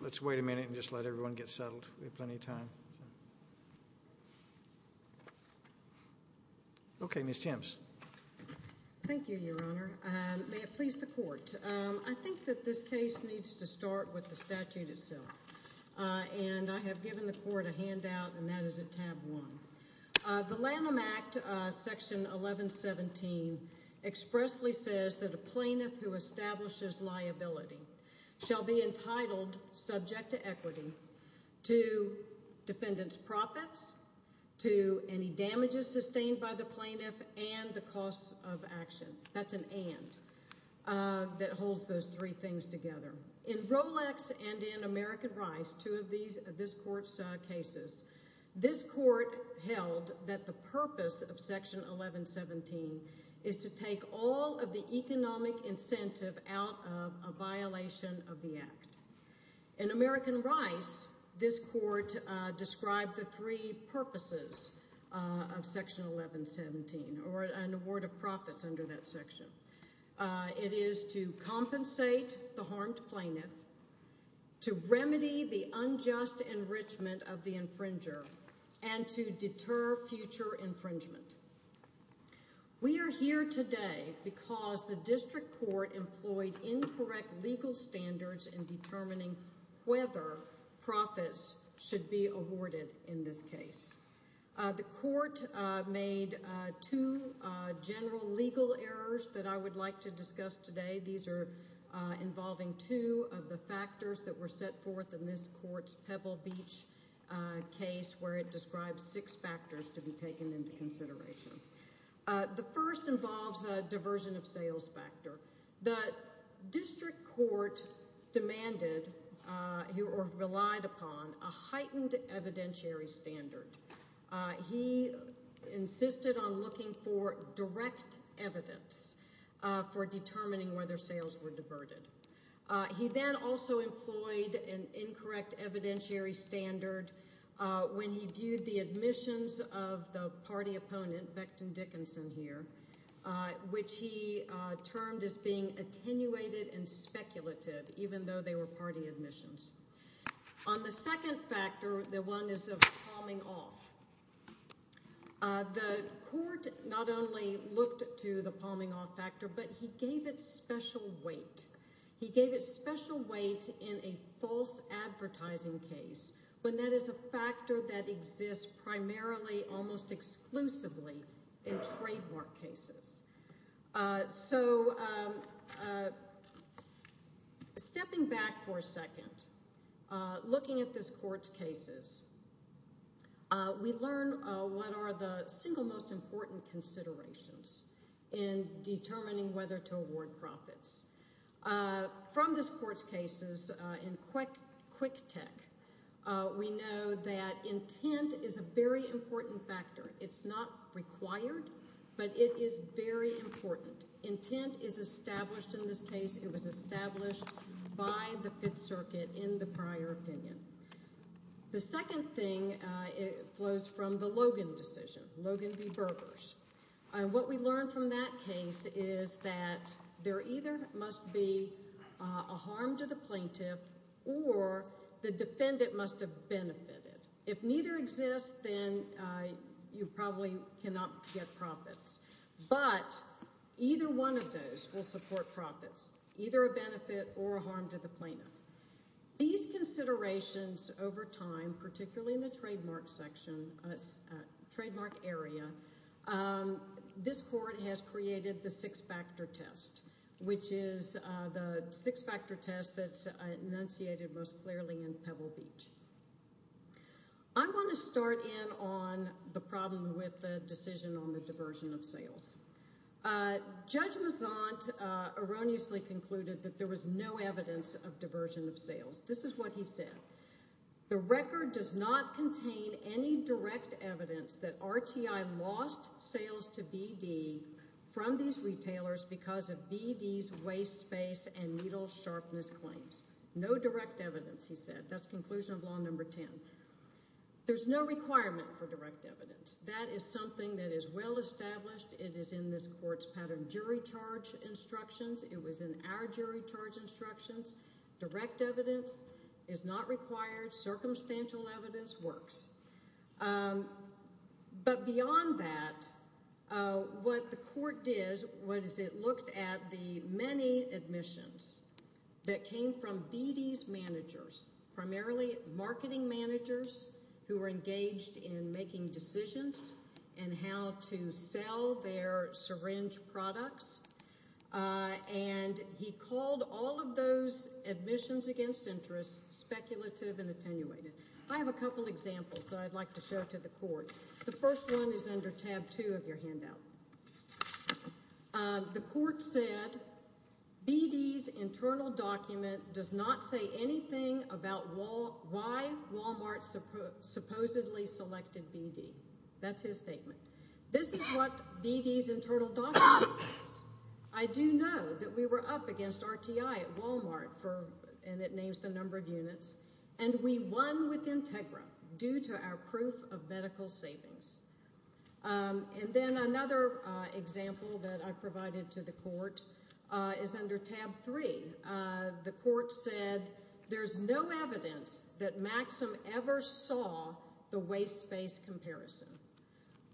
Let's wait a minute and just let everyone get settled. We have plenty of time. Okay, I think that this case needs to start with the statute itself. And I have given the court a handout and that is at tab 1. The Lanham Act Section 1117 expressly says that a plaintiff who establishes liability shall be entitled, subject to equity, to defendant's profits, to any damages sustained by the plaintiff and the costs of action. That's an and that holds those three things together. In Rolex and in American Rice, two of these, this court's cases, this court held that the purpose of Section 1117 is to take all of the economic incentive out of a violation of the Act. In American Rice, this court described the three purposes of Section 1117 or an award of profits under that section. It is to compensate the harmed plaintiff, to remedy the unjust enrichment of the infringer, and to deter future infringement. We are here today because the district court employed incorrect legal standards in determining whether profits should be awarded in this case. The court made two general legal errors that I would like to discuss today. These are involving two of the factors that were set forth in this court's Pebble Beach case where it describes six factors to be taken into consideration. The first involves a diversion of sales factor. The district court demanded or relied upon a heightened evidentiary standard. He insisted on looking for direct evidence for determining whether sales were diverted. He then also employed an incorrect evidentiary standard when he viewed the admissions of the party opponent, Becton Dickinson here, which he termed as being attenuated and speculative even though they were party admissions. On the second factor, the one is of palming off. The court not only looked to the palming off factor, but he gave it special weight. He gave it special weight in a false advertising case when that is a factor that exists primarily almost exclusively in trademark cases. So stepping back for a second, looking at this court's cases, we learn what are the single most important considerations in determining whether to award profits. From this court's cases in Quick Tech, we know that intent is a very important factor. It's not required, but it is very important. Intent is established in this case. It was established by the Fifth Circuit in the prior opinion. The second thing flows from the Logan decision, Logan v. Burgers. What we learned from that case is that there either must be a harm to the plaintiff or the defendant must have benefited. If neither exists, then you probably cannot get profits. But either one of those will support profits, either a benefit or a harm to the plaintiff. These considerations over time, particularly in the trademark area, this court has created the six-factor test, which is the six-factor test that's enunciated most clearly in Pebble Beach. I want to start in on the problem with the decision on the diversion of sales. Judge Mazant erroneously concluded that there was no evidence of diversion of sales. This is what he said. The record does not contain any direct evidence that RTI lost sales to BD from these retailers because of BD's waste space and needle sharpness claims. No direct evidence, he said. That's conclusion of law number 10. There's no requirement for direct evidence. That is something that is well established. It is in this court's pattern jury charge instructions. It was in our jury charge instructions. Direct evidence is not required. Circumstantial evidence works. But beyond that, what the court did was it looked at the many admissions that came from BD's managers, primarily marketing managers who were engaged in making decisions and how to sell their syringe products, and he called all of those admissions against interest speculative and attenuated. I have a couple examples that I'd like to show to the court. The first one is under tab two of your handout. The court said BD's internal document does not say anything about why Wal-Mart supposedly selected BD. That's his statement. This is what BD's internal document says. I do know that we were up against RTI at Wal-Mart, and it names the number of units, and we won with Integra due to our proof of medical savings. And then another example that I provided to the court is under tab three. The court said there's no evidence that Maxim ever saw the waste space comparison.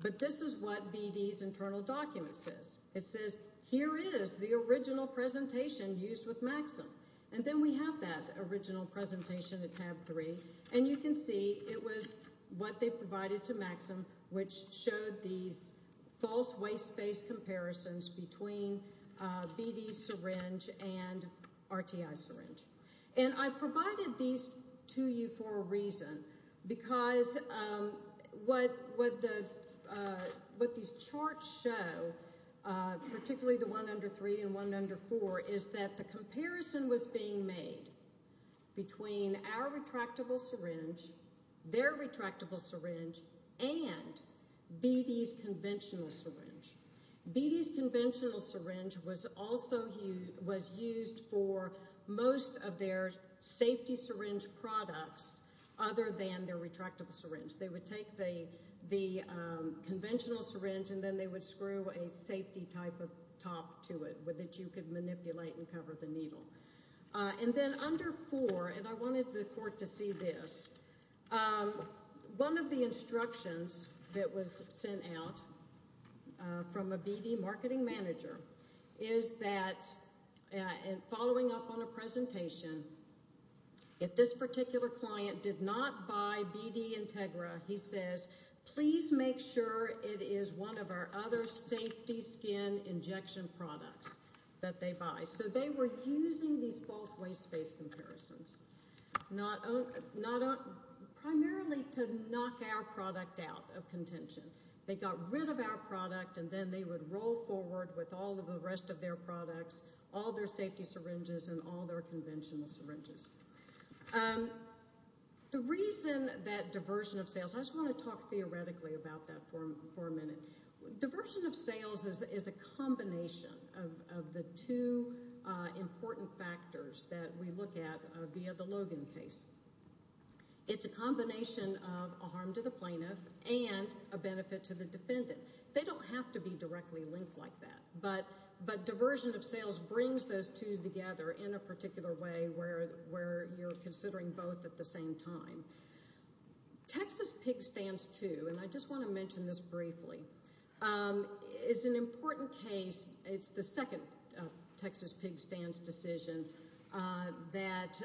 But this is what BD's internal document says. It says, here is the original presentation used with Maxim. And then we have that original presentation at tab three, and you can see it was what they provided to Maxim, which showed these false waste space comparisons between BD's syringe and RTI syringe. And I provided these to you for a reason, because what these charts show, particularly the one under three and one under four, is that the comparison was being made between our retractable syringe, their retractable syringe, and BD's conventional syringe. BD's conventional syringe was also used for most of their safety syringe products other than their retractable syringe. They would take the conventional syringe, and then they would screw a safety type of top to it with which you could manipulate and cover the needle. And then under four, and I wanted the court to see this, one of the instructions that was sent out from a BD marketing manager is that, following up on a presentation, if this particular client did not buy BD Integra, he says, please make sure it is one of our other safety skin injection products that they buy. So they were using these false waste space comparisons, primarily to knock our product out of contention. They got rid of our product, and then they would roll forward with all of the rest of their products, all their safety syringes, and all their conventional syringes. The reason that diversion of sales, I just want to talk theoretically about that for a minute. Diversion of sales is a combination of the two important factors that we look at via the Logan case. It's a combination of a harm to the plaintiff and a benefit to the defendant. They don't have to be directly linked like that, but diversion of sales brings those two together in a particular way where you're considering both at the same time. Texas Pig Stance 2, and I just want to mention this briefly, is an important case. It's the second Texas Pig Stance decision that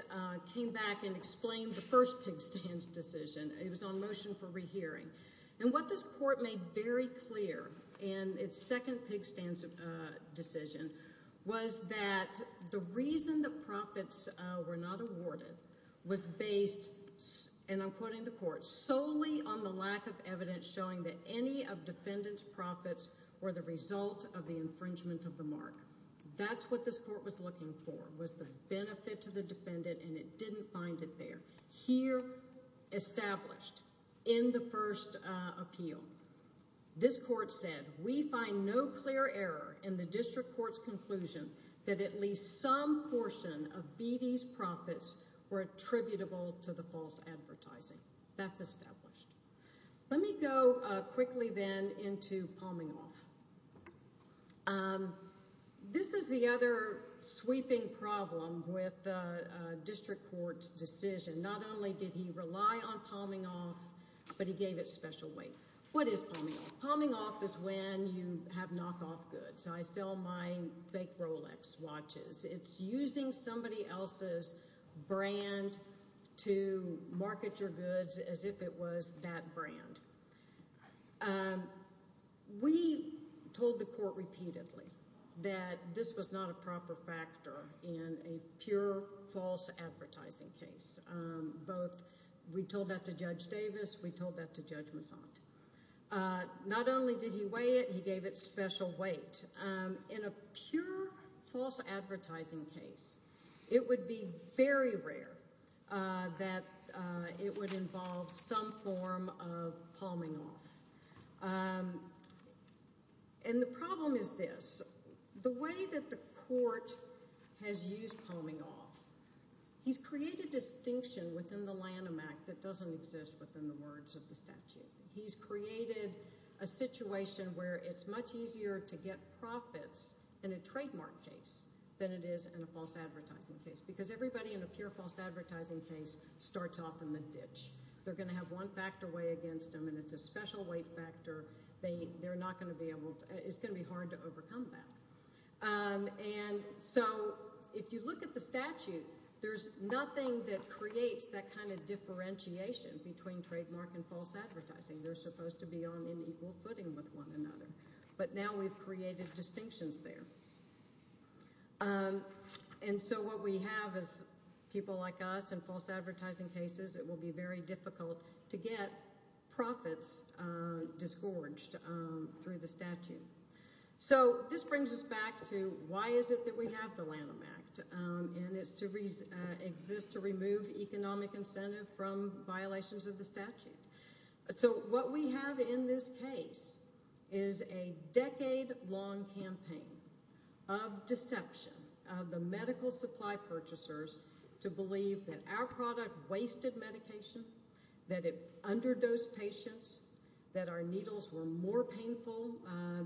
came back and explained the first Pig Stance decision. It was on motion for rehearing. And what this court made very clear in its second Pig Stance decision was that the reason the profits were not awarded was based, and I'm quoting the court, solely on the lack of evidence showing that any of defendant's profits were the result of the infringement of the mark. That's what this court was looking for, was the benefit to the defendant, and it didn't find it there. Here, established in the first appeal, this court said, we find no clear error in the district court's conclusion that at least some portion of BD's profits were attributable to the false advertising. That's established. Let me go quickly, then, into Palming Off. This is the other sweeping problem with district court's decision. Not only did he rely on Palming Off, but he gave it special weight. What is Palming Off? Palming Off is when you have knockoff goods. I sell my fake Rolex watches. It's using somebody else's brand to market your goods as if it was that brand. We told the court repeatedly that this was not a proper factor in a pure false advertising case. We told that to Judge Davis. We told that to Judge Massant. Not only did he weigh it, he gave it special weight. In a pure false advertising case, it would be very rare that it would involve some form of Palming Off. The problem is this. The way that the court has used Palming Off, he's created distinction within the Lanham Act that doesn't exist within the words of the statute. He's created a situation where it's much easier to get profits in a trademark case than it is in a false advertising case because everybody in a pure false advertising case starts off in the ditch. They're going to have one factor weigh against them, and it's a special weight factor. It's going to be hard to overcome that. If you look at the statute, there's nothing that creates that kind of differentiation between trademark and false advertising. They're supposed to be on an equal footing with one another, but now we've created distinctions there. What we have is people like us in false advertising cases. It will be very difficult to get profits disgorged through the statute. This brings us back to why is it that we have the Lanham Act, and it exists to remove economic incentive from violations of the statute. What we have in this case is a decade-long campaign of deception of the medical supply purchasers to believe that our product wasted medication, that it underdosed patients, that our needles were more painful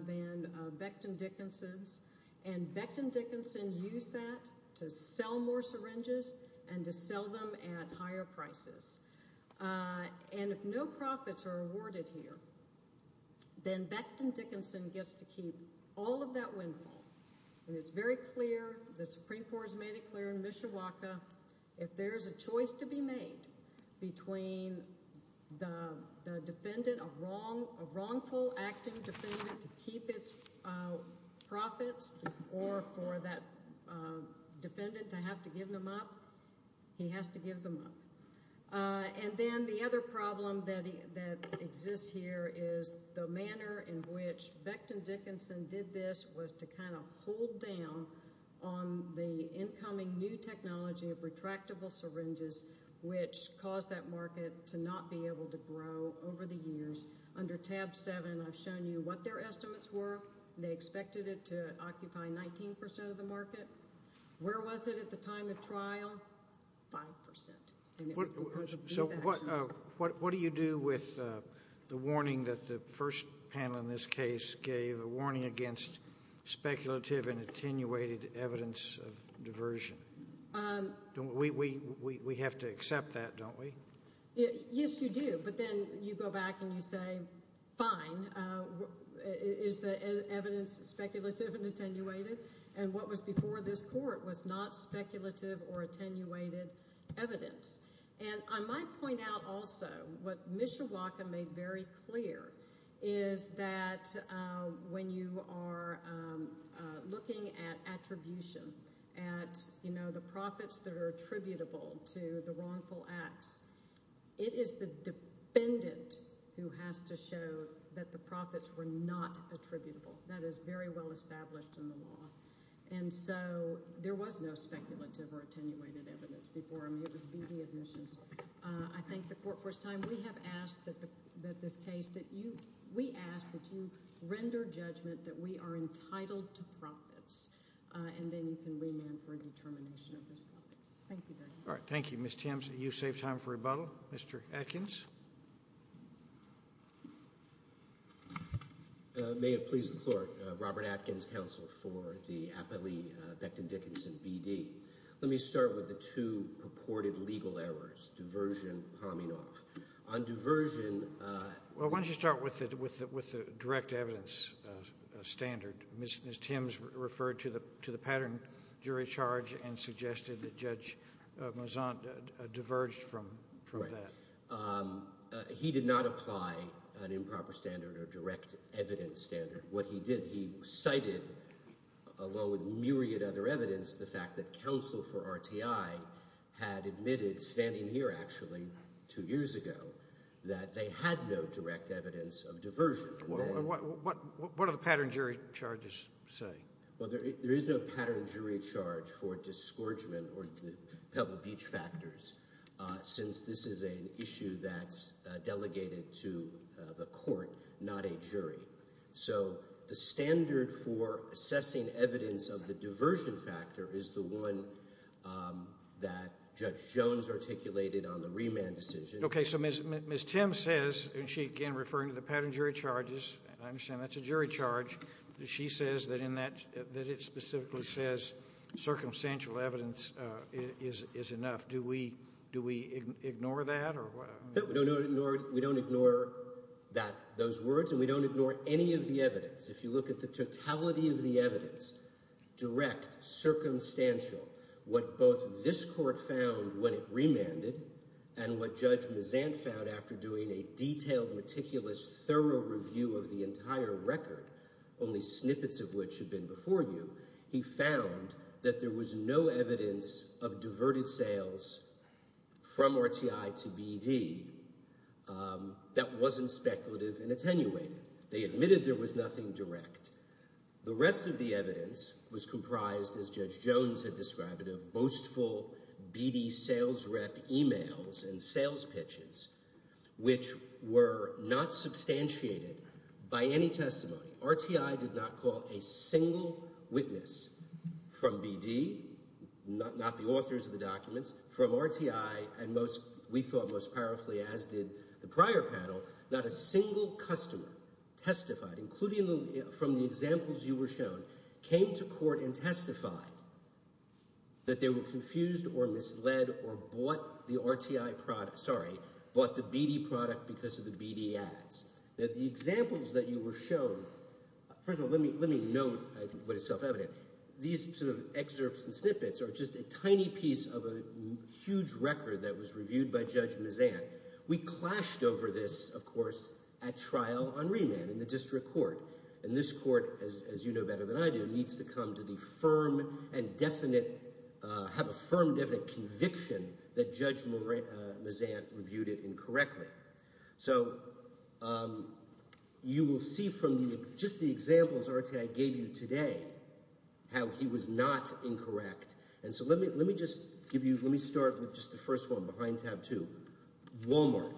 than Becton Dickinson's. Becton Dickinson used that to sell more syringes and to sell them at higher prices. If no profits are awarded here, then Becton Dickinson gets to keep all of that windfall. It's very clear, the Supreme Court has made it clear in Mishawaka, if there's a choice to be made between a wrongful acting defendant to keep its profits or for that defendant to have to give them up, he has to give them up. Then the other problem that exists here is the manner in which Becton Dickinson did this was to kind of hold down on the incoming new technology of retractable syringes, which caused that market to not be able to grow over the years. Under tab 7, I've shown you what their estimates were. They expected it to occupy 19% of the market. Where was it at the time of trial? 5%. So what do you do with the warning that the first panel in this case gave, a warning against speculative and attenuated evidence of diversion? We have to accept that, don't we? Yes, you do, but then you go back and you say, fine, is the evidence speculative and attenuated? And what was before this court was not speculative or attenuated evidence. And I might point out also what Mishawaka made very clear is that when you are looking at attribution, at the profits that are attributable to the wrongful acts, it is the defendant who has to show that the profits were not attributable. That is very well established in the law. And so there was no speculative or attenuated evidence before. I mean, it was BD admissions. I think the court, for the first time, we have asked that this case, that you, we ask that you render judgment that we are entitled to profits, and then you can remand for a determination of those profits. Thank you very much. All right, thank you. Ms. Thames, you've saved time for rebuttal. Mr. Atkins? May it please the court, Robert Atkins, counsel for the Aptly-Becton-Dickinson BD. Let me start with the two purported legal errors, diversion, palming off. On diversion... Well, why don't you start with the direct evidence standard. Ms. Thames referred to the pattern jury charge and suggested that Judge Mouzant diverged from that. He did not apply an improper standard or direct evidence standard. What he did, he cited, along with myriad other evidence, the fact that counsel for RTI had admitted, standing here actually two years ago, that they had no direct evidence of diversion. What do the pattern jury charges say? Well, there is no pattern jury charge for disgorgement or the Pebble Beach factors since this is an issue that's delegated to the court, not a jury. So the standard for assessing evidence of the diversion factor is the one that Judge Jones articulated on the remand decision. Okay, so Ms. Thames says, and she, again, referring to the pattern jury charges, and I understand that's a jury charge, that she says that it specifically says circumstantial evidence is enough. Do we ignore that? No, we don't ignore those words, and we don't ignore any of the evidence. If you look at the totality of the evidence, direct, circumstantial, what both this court found when it remanded and what Judge Mouzant found after doing a detailed, meticulous, thorough review of the entire record, only snippets of which have been before you, he found that there was no evidence of diverted sales from RTI to BD that wasn't speculative and attenuated. They admitted there was nothing direct. The rest of the evidence was comprised, as Judge Jones had described it, of boastful BD sales rep emails and sales pitches, which were not substantiated by any testimony. RTI did not call a single witness from BD, not the authors of the documents, from RTI, and we thought most powerfully, as did the prior panel, not a single customer testified, including from the examples you were shown, came to court and testified that they were confused or misled or bought the RTI – sorry, bought the BD product because of the BD ads. Now, the examples that you were shown – first of all, let me note what is self-evident. These sort of excerpts and snippets are just a tiny piece of a huge record that was reviewed by Judge Mouzant. We clashed over this, of course, at trial on remand in the district court, and this court, as you know better than I do, needs to come to the firm and definite – have a firm, definite conviction that Judge Mouzant reviewed it incorrectly. So you will see from just the examples RTI gave you today how he was not incorrect. And so let me just give you – let me start with just the first one behind tab two, Walmart.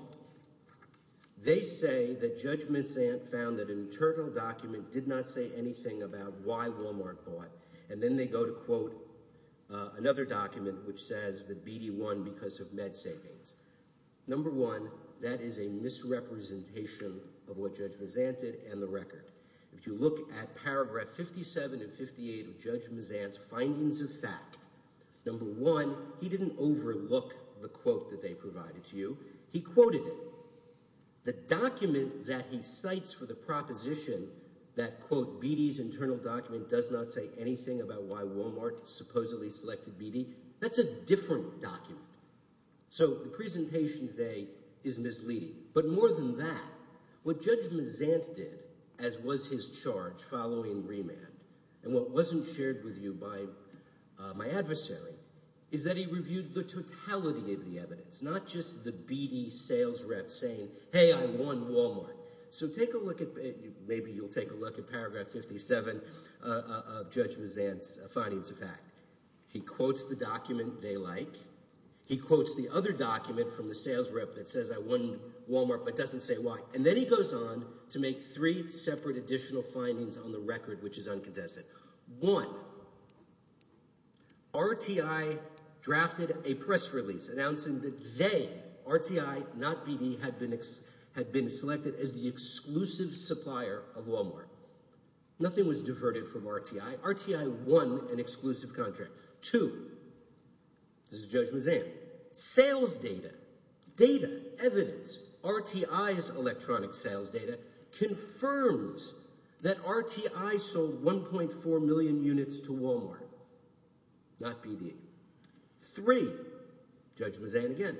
They say that Judge Mouzant found that an internal document did not say anything about why Walmart bought, and then they go to quote another document, which says that BD won because of med savings. Number one, that is a misrepresentation of what Judge Mouzant did and the record. If you look at paragraph 57 and 58 of Judge Mouzant's findings of fact, number one, he didn't overlook the quote that they provided to you. He quoted it. The document that he cites for the proposition that, quote, BD's internal document does not say anything about why Walmart supposedly selected BD, that's a different document. So the presentation today is misleading. But more than that, what Judge Mouzant did, as was his charge following remand, and what wasn't shared with you by my adversary, is that he reviewed the totality of the evidence, not just the BD sales rep saying, hey, I won Walmart. So take a look at – maybe you'll take a look at paragraph 57 of Judge Mouzant's findings of fact. He quotes the document they like. He quotes the other document from the sales rep that says I won Walmart but doesn't say why. And then he goes on to make three separate additional findings on the record, which is uncontested. One, RTI drafted a press release announcing that they, RTI, not BD, had been selected as the exclusive supplier of Walmart. Nothing was diverted from RTI. RTI won an exclusive contract. Two, this is Judge Mouzant, sales data, data, evidence, RTI's electronic sales data confirms that RTI sold 1.4 million units to Walmart, not BD. Three, Judge Mouzant again,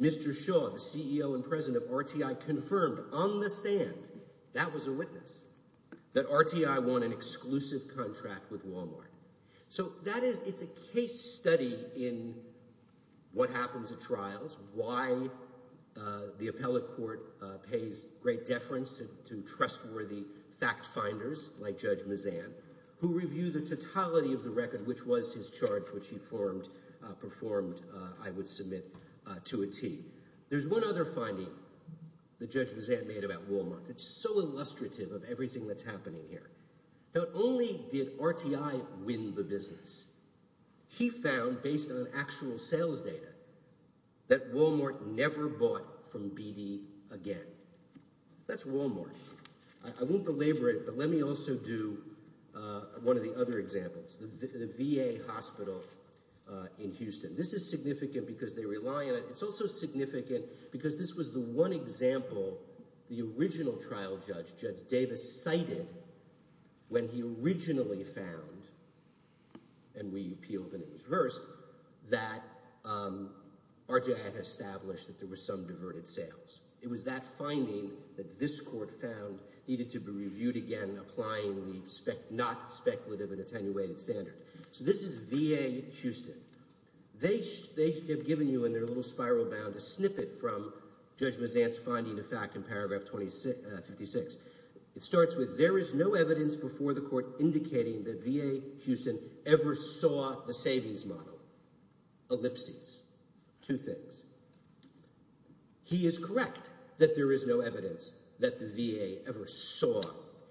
Mr. Shaw, the CEO and president of RTI, confirmed on the stand – that was a witness – that RTI won an exclusive contract with Walmart. So that is – it's a case study in what happens at trials, why the appellate court pays great deference to trustworthy fact-finders like Judge Mouzant, who review the totality of the record, which was his charge, which he formed – performed, I would submit, to a T. There's one other finding that Judge Mouzant made about Walmart that's so illustrative of everything that's happening here. Not only did RTI win the business, he found, based on actual sales data, that Walmart never bought from BD again. That's Walmart. I won't belabor it, but let me also do one of the other examples, the VA hospital in Houston. This is significant because they rely on it. It's also significant because this was the one example the original trial judge, Judge Davis, cited when he originally found – and we appealed and it was reversed – that RTI had established that there were some diverted sales. It was that finding that this court found needed to be reviewed again, applying the not-speculative and attenuated standard. So this is VA Houston. They have given you in their little spiral bound a snippet from Judge Mouzant's finding to fact in paragraph 56. It starts with, there is no evidence before the court indicating that VA Houston ever saw the Savings Model. Ellipses. Two things. He is correct that there is no evidence that the VA ever saw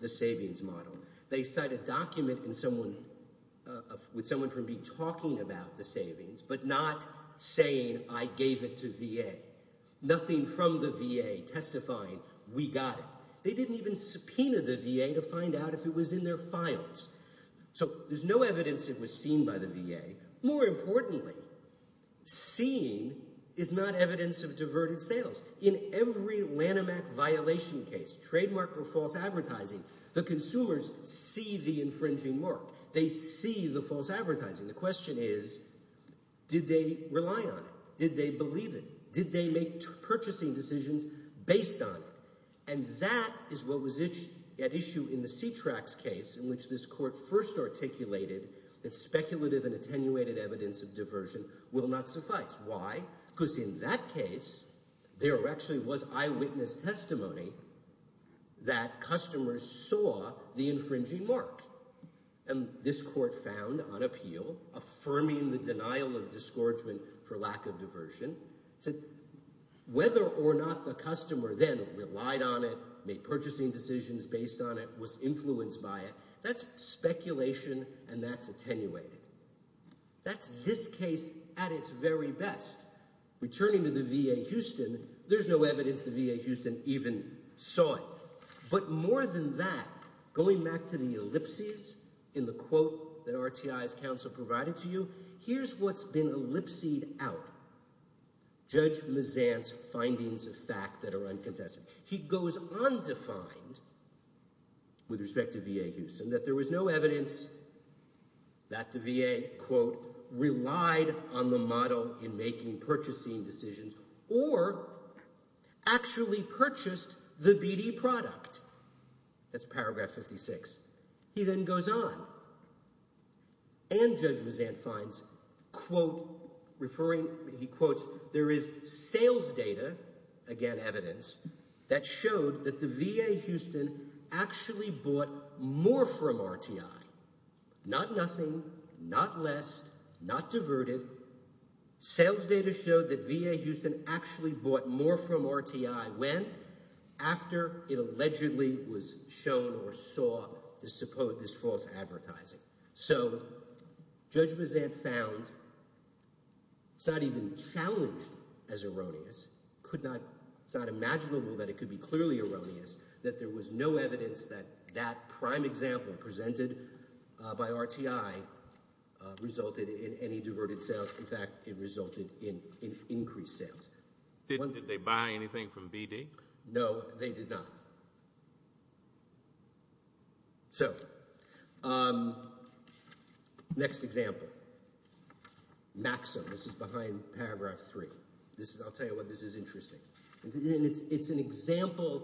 the Savings Model. They cite a document with someone from B talking about the savings but not saying, I gave it to VA. Nothing from the VA testifying, we got it. They didn't even subpoena the VA to find out if it was in their files. So there's no evidence it was seen by the VA. More importantly, seen is not evidence of diverted sales. In every Lanham Act violation case, trademark or false advertising, the consumers see the infringing mark. They see the false advertising. The question is, did they rely on it? Did they believe it? Did they make purchasing decisions based on it? And that is what was at issue in the C-TRAX case in which this court first articulated that speculative and attenuated evidence of diversion will not suffice. Why? Because in that case, there actually was eyewitness testimony that customers saw the infringing mark. And this court found on appeal, affirming the denial of disgorgement for lack of diversion, said whether or not the customer then relied on it, made purchasing decisions based on it, was influenced by it, that's speculation and that's attenuated. That's this case at its very best. Returning to the VA Houston, there's no evidence the VA Houston even saw it. But more than that, going back to the ellipses in the quote that RTI's counsel provided to you, here's what's been ellipsed out. Judge Mazant's findings of fact that are uncontested. He goes on to find, with respect to VA Houston, that there was no evidence that the VA, quote, relied on the model in making purchasing decisions or actually purchased the BD product. That's paragraph 56. He then goes on. And Judge Mazant finds, quote, referring, he quotes, there is sales data, again evidence, that showed that the VA Houston actually bought more from RTI. Not nothing, not less, not diverted. Sales data showed that VA Houston actually bought more from RTI when? After it allegedly was shown or saw this false advertising. So Judge Mazant found it's not even challenged as erroneous. It's not imaginable that it could be clearly erroneous that there was no evidence that that prime example presented by RTI resulted in any diverted sales. In fact, it resulted in increased sales. Did they buy anything from BD? No, they did not. So next example. Maxo. This is behind paragraph three. I'll tell you what, this is interesting. It's an example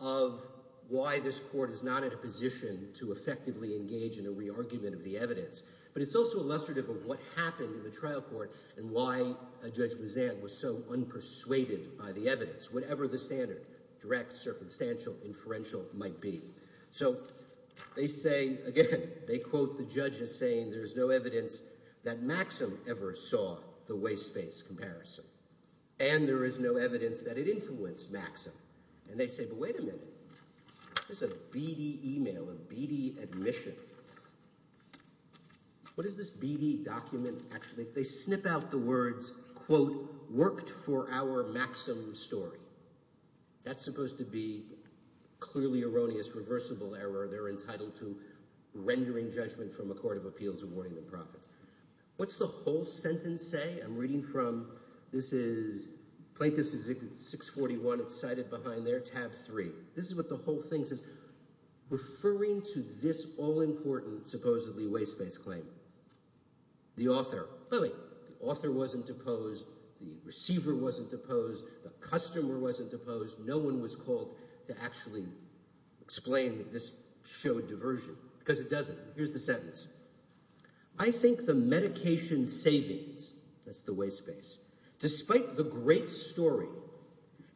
of why this court is not in a position to effectively engage in a re-argument of the evidence. But it's also illustrative of what happened in the trial court and why Judge Mazant was so unpersuaded by the evidence. Whatever the standard, direct, circumstantial, inferential might be. So they say, again, they quote the judges saying there's no evidence that Maxim ever saw the waste space comparison. And there is no evidence that it influenced Maxim. And they say, but wait a minute. This is a BD email, a BD admission. What is this BD document actually? They snip out the words, quote, worked for our Maxim story. That's supposed to be clearly erroneous, reversible error. They're entitled to rendering judgment from a court of appeals awarding them profits. What's the whole sentence say? I'm reading from this is plaintiff's executive 641. It's cited behind there, tab three. This is what the whole thing says. Referring to this all-important supposedly waste-based claim. The author, but wait, the author wasn't deposed. The receiver wasn't deposed. The customer wasn't deposed. No one was called to actually explain this show diversion because it doesn't. Here's the sentence. I think the medication savings, that's the waste space, despite the great story,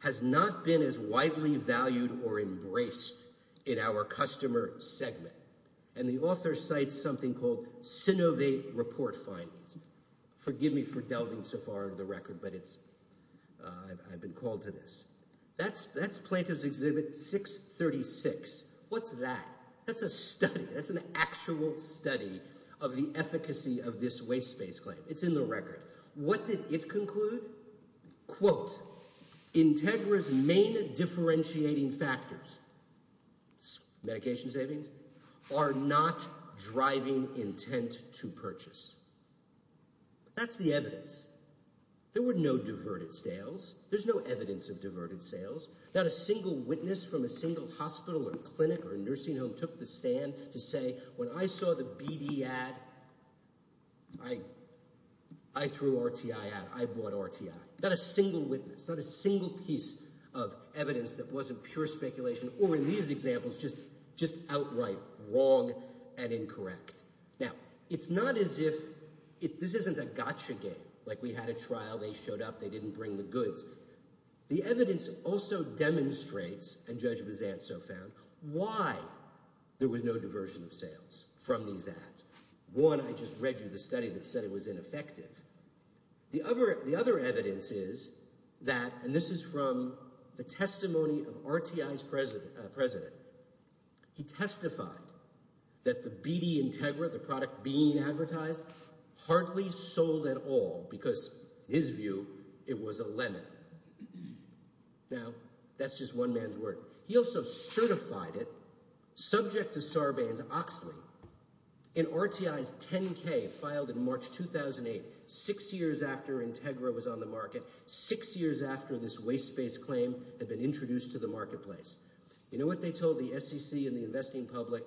has not been as widely valued or embraced in our customer segment. And the author cites something called synovate report findings. Forgive me for delving so far into the record, but I've been called to this. That's plaintiff's exhibit 636. What's that? That's a study. That's an actual study of the efficacy of this waste-based claim. It's in the record. What did it conclude? Quote, Integra's main differentiating factors. Medication savings are not driving intent to purchase. That's the evidence. There were no diverted sales. There's no evidence of diverted sales. Not a single witness from a single hospital or clinic or nursing home took the stand to say when I saw the BD ad, I threw RTI out. I bought RTI. Not a single witness, not a single piece of evidence that wasn't pure speculation or, in these examples, just outright wrong and incorrect. Now, it's not as if this isn't a gotcha game, like we had a trial, they showed up, they didn't bring the goods. The evidence also demonstrates, and Judge Bizantso found, why there was no diversion of sales from these ads. One, I just read you the study that said it was ineffective. The other evidence is that, and this is from the testimony of RTI's president, he testified that the BD Integra, the product being advertised, hardly sold at all because, in his view, it was a lemon. Now, that's just one man's word. He also certified it, subject to Sarbanes-Oxley, in RTI's 10-K, filed in March 2008, six years after Integra was on the market, six years after this waste-based claim had been introduced to the marketplace. You know what they told the SEC and the investing public?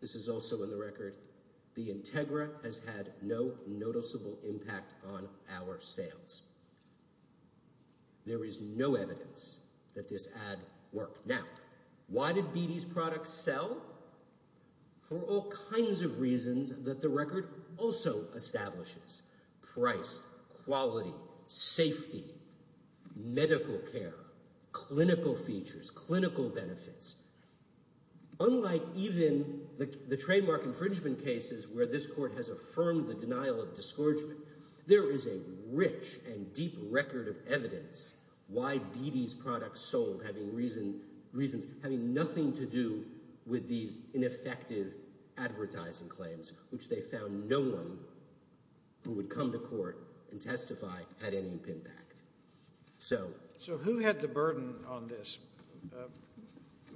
This is also in the record. The Integra has had no noticeable impact on our sales. There is no evidence that this ad worked. Now, why did BD's products sell? For all kinds of reasons that the record also establishes. Price, quality, safety, medical care, clinical features, clinical benefits. Unlike even the trademark infringement cases where this court has affirmed the denial of discouragement, there is a rich and deep record of evidence why BD's products sold, having nothing to do with these ineffective advertising claims, which they found no one who would come to court and testify had any impact. So who had the burden on this?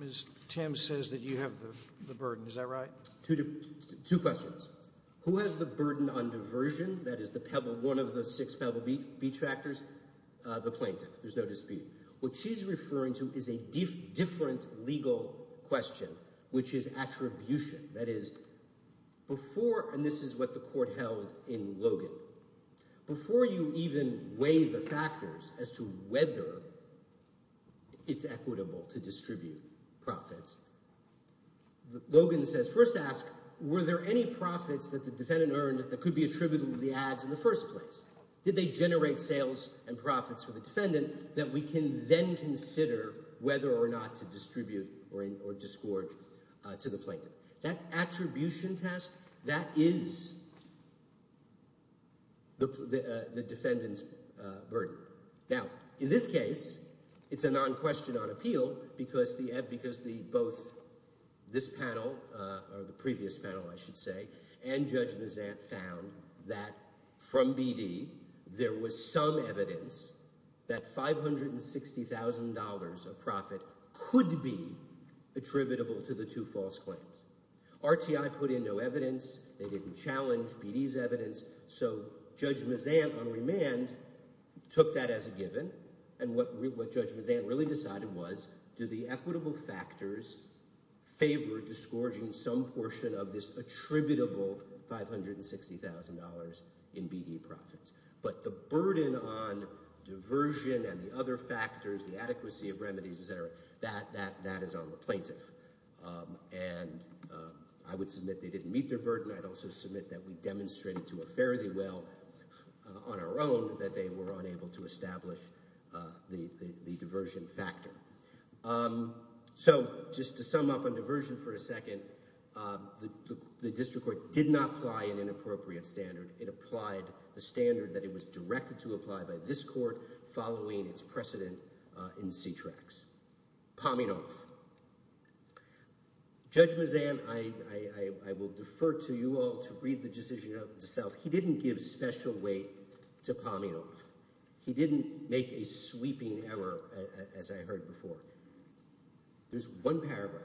Ms. Timm says that you have the burden. Is that right? Two questions. Who has the burden on diversion? That is one of the six Pebble Beach factors. The plaintiff. There's no dispute. What she's referring to is a different legal question, which is attribution. That is, before—and this is what the court held in Logan. Before you even weigh the factors as to whether it's equitable to distribute profits, Logan says, first ask, were there any profits that the defendant earned that could be attributed to the ads in the first place? Did they generate sales and profits for the defendant that we can then consider whether or not to distribute or discord to the plaintiff? That attribution test, that is the defendant's burden. Now, in this case, it's a non-question on appeal because both this panel or the previous panel, I should say, and Judge Mazant found that from BD there was some evidence that $560,000 of profit could be attributable to the two false claims. RTI put in no evidence. They didn't challenge BD's evidence. So Judge Mazant on remand took that as a given, and what Judge Mazant really decided was do the equitable factors favor discouraging some portion of this attributable $560,000 in BD profits? But the burden on diversion and the other factors, the adequacy of remedies, et cetera, that is on the plaintiff. And I would submit they didn't meet their burden. I'd also submit that we demonstrated to a fairly well on our own that they were unable to establish the diversion factor. So just to sum up on diversion for a second, the district court did not apply an inappropriate standard. It applied the standard that it was directed to apply by this court following its precedent in C-TRAX. Pominoff. Judge Mazant, I will defer to you all to read the decision itself. He didn't give special weight to Pominoff. He didn't make a sweeping error, as I heard before. There's one paragraph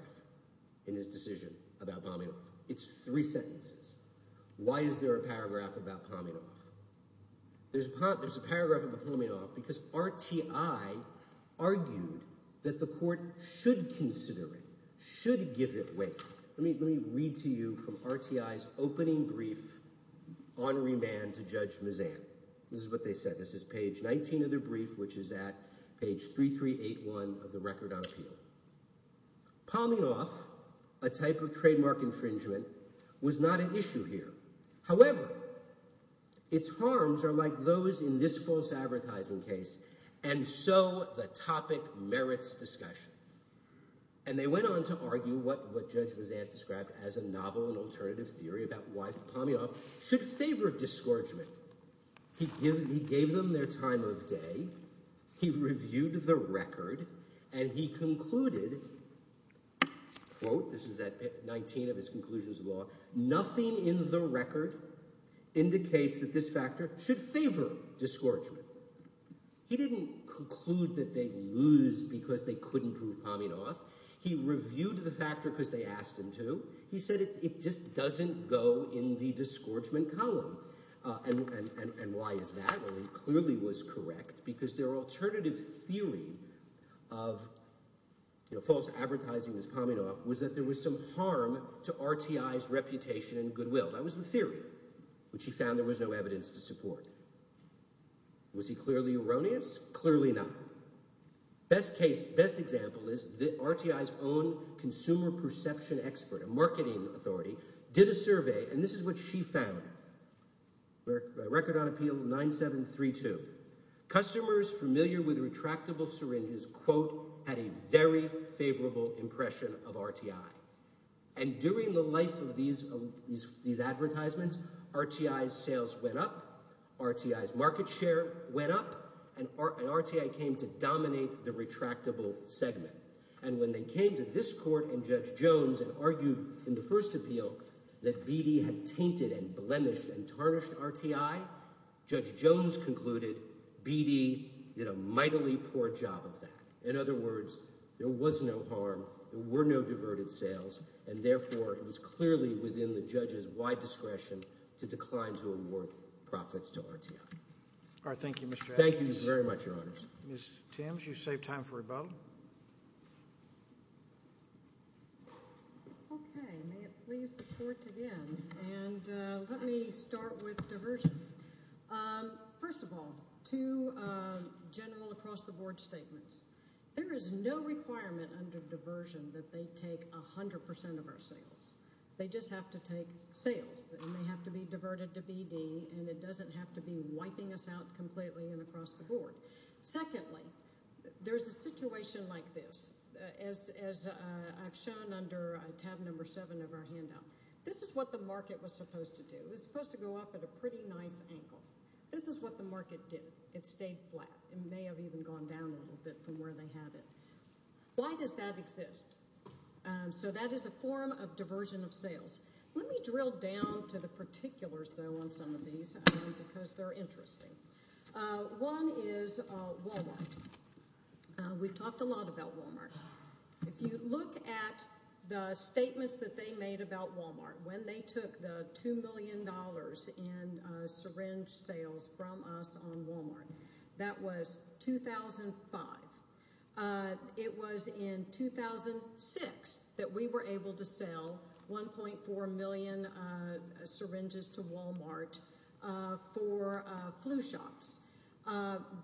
in his decision about Pominoff. It's three sentences. Why is there a paragraph about Pominoff? There's a paragraph about Pominoff because RTI argued that the court should consider it, should give it weight. Let me read to you from RTI's opening brief on remand to Judge Mazant. This is what they said. This is page 19 of their brief, which is at page 3381 of the record on appeal. Pominoff, a type of trademark infringement, was not an issue here. However, its harms are like those in this false advertising case, and so the topic merits discussion. And they went on to argue what Judge Mazant described as a novel and alternative theory about why Pominoff should favor discouragement. He gave them their time of day. He reviewed the record, and he concluded, quote – this is at 19 of his conclusions of law – nothing in the record indicates that this factor should favor discouragement. He didn't conclude that they'd lose because they couldn't prove Pominoff. He reviewed the factor because they asked him to. He said it just doesn't go in the discouragement column. And why is that? Well, he clearly was correct because their alternative theory of false advertising as Pominoff was that there was some harm to RTI's reputation and goodwill. That was the theory, which he found there was no evidence to support. Was he clearly erroneous? Clearly not. Best case – best example is RTI's own consumer perception expert, a marketing authority, did a survey, and this is what she found. Record on appeal 9732. Customers familiar with retractable syringes, quote, had a very favorable impression of RTI. And during the life of these advertisements, RTI's sales went up, RTI's market share went up, and RTI came to dominate the retractable segment. And when they came to this court and Judge Jones and argued in the first appeal that BD had tainted and blemished and tarnished RTI, Judge Jones concluded BD did a mightily poor job of that. In other words, there was no harm, there were no diverted sales, and therefore it was clearly within the judge's wide discretion to decline to award profits to RTI. All right. Thank you, Mr. Adkins. Thank you very much, Your Honors. Ms. Timms, you've saved time for a vote. Okay. May it please the court again. And let me start with diversion. First of all, two general across-the-board statements. There is no requirement under diversion that they take 100% of our sales. They just have to take sales. They may have to be diverted to BD, and it doesn't have to be wiping us out completely and across the board. Secondly, there's a situation like this. As I've shown under tab number seven of our handout, this is what the market was supposed to do. It was supposed to go up at a pretty nice angle. This is what the market did. It stayed flat. It may have even gone down a little bit from where they had it. Why does that exist? So that is a form of diversion of sales. Let me drill down to the particulars, though, on some of these because they're interesting. One is Walmart. We've talked a lot about Walmart. If you look at the statements that they made about Walmart, when they took the $2 million in syringe sales from us on Walmart, that was 2005. It was in 2006 that we were able to sell 1.4 million syringes to Walmart for flu shots.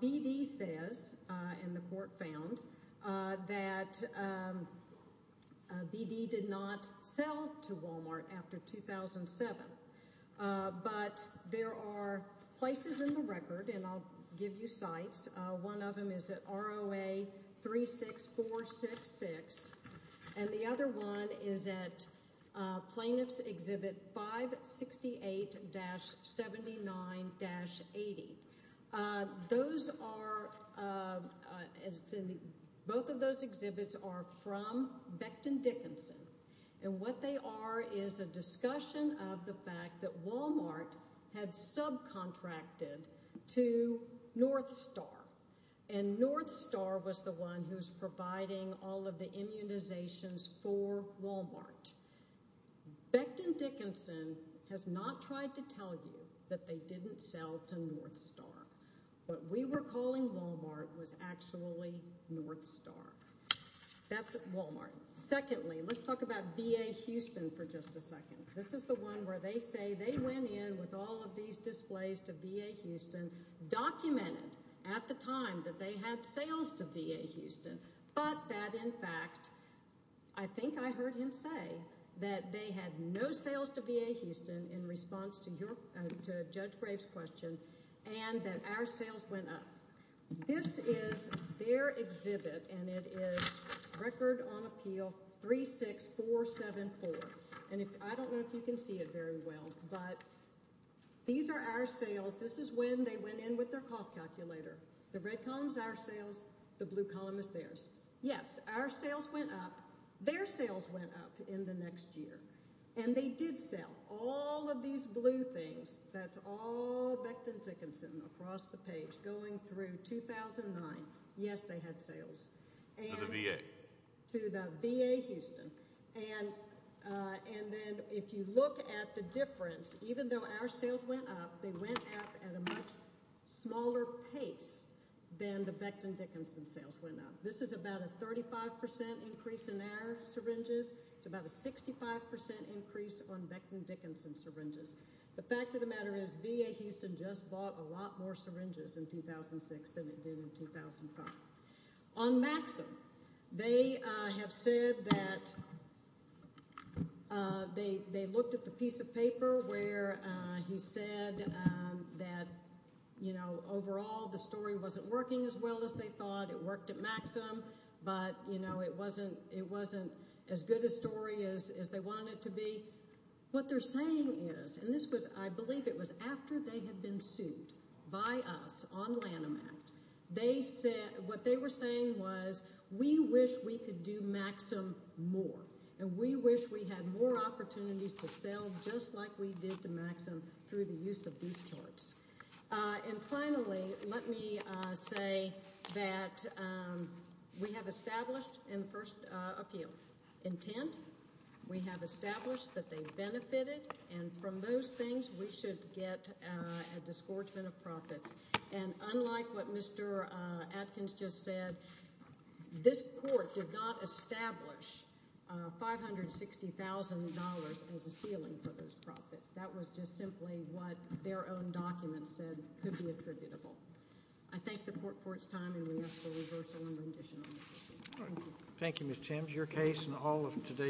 BD says, and the court found, that BD did not sell to Walmart after 2007. But there are places in the record, and I'll give you sites. One of them is at ROA 36466, and the other one is at Plaintiff's Exhibit 568-79-80. Both of those exhibits are from Becton Dickinson, and what they are is a discussion of the fact that Walmart had subcontracted to North Star. And North Star was the one who's providing all of the immunizations for Walmart. Becton Dickinson has not tried to tell you that they didn't sell to North Star. What we were calling Walmart was actually North Star. That's Walmart. Secondly, let's talk about VA Houston for just a second. This is the one where they say they went in with all of these displays to VA Houston, documented at the time that they had sales to VA Houston, but that, in fact, I think I heard him say that they had no sales to VA Houston in response to Judge Graves' question and that our sales went up. This is their exhibit, and it is Record on Appeal 36474. And I don't know if you can see it very well, but these are our sales. This is when they went in with their cost calculator. The red column is our sales. The blue column is theirs. Yes, our sales went up. Their sales went up in the next year, and they did sell all of these blue things. That's all Becton Dickinson across the page going through 2009. Yes, they had sales. To the VA. To the VA Houston. And then if you look at the difference, even though our sales went up, they went up at a much smaller pace than the Becton Dickinson sales went up. This is about a 35% increase in their syringes. It's about a 65% increase on Becton Dickinson syringes. The fact of the matter is VA Houston just bought a lot more syringes in 2006 than it did in 2005. On Maxim, they have said that they looked at the piece of paper where he said that, you know, overall the story wasn't working as well as they thought. It worked at Maxim, but, you know, it wasn't as good a story as they wanted it to be. What they're saying is, and this was I believe it was after they had been sued by us on Lanham Act. What they were saying was we wish we could do Maxim more, and we wish we had more opportunities to sell just like we did to Maxim through the use of these charts. And finally, let me say that we have established in the first appeal intent. We have established that they benefited, and from those things we should get a disgorgement of profits. And unlike what Mr. Adkins just said, this court did not establish $560,000 as a ceiling for those profits. That was just simply what their own documents said could be attributable. I thank the court for its time, and we ask for reversal and rendition on this issue. Thank you.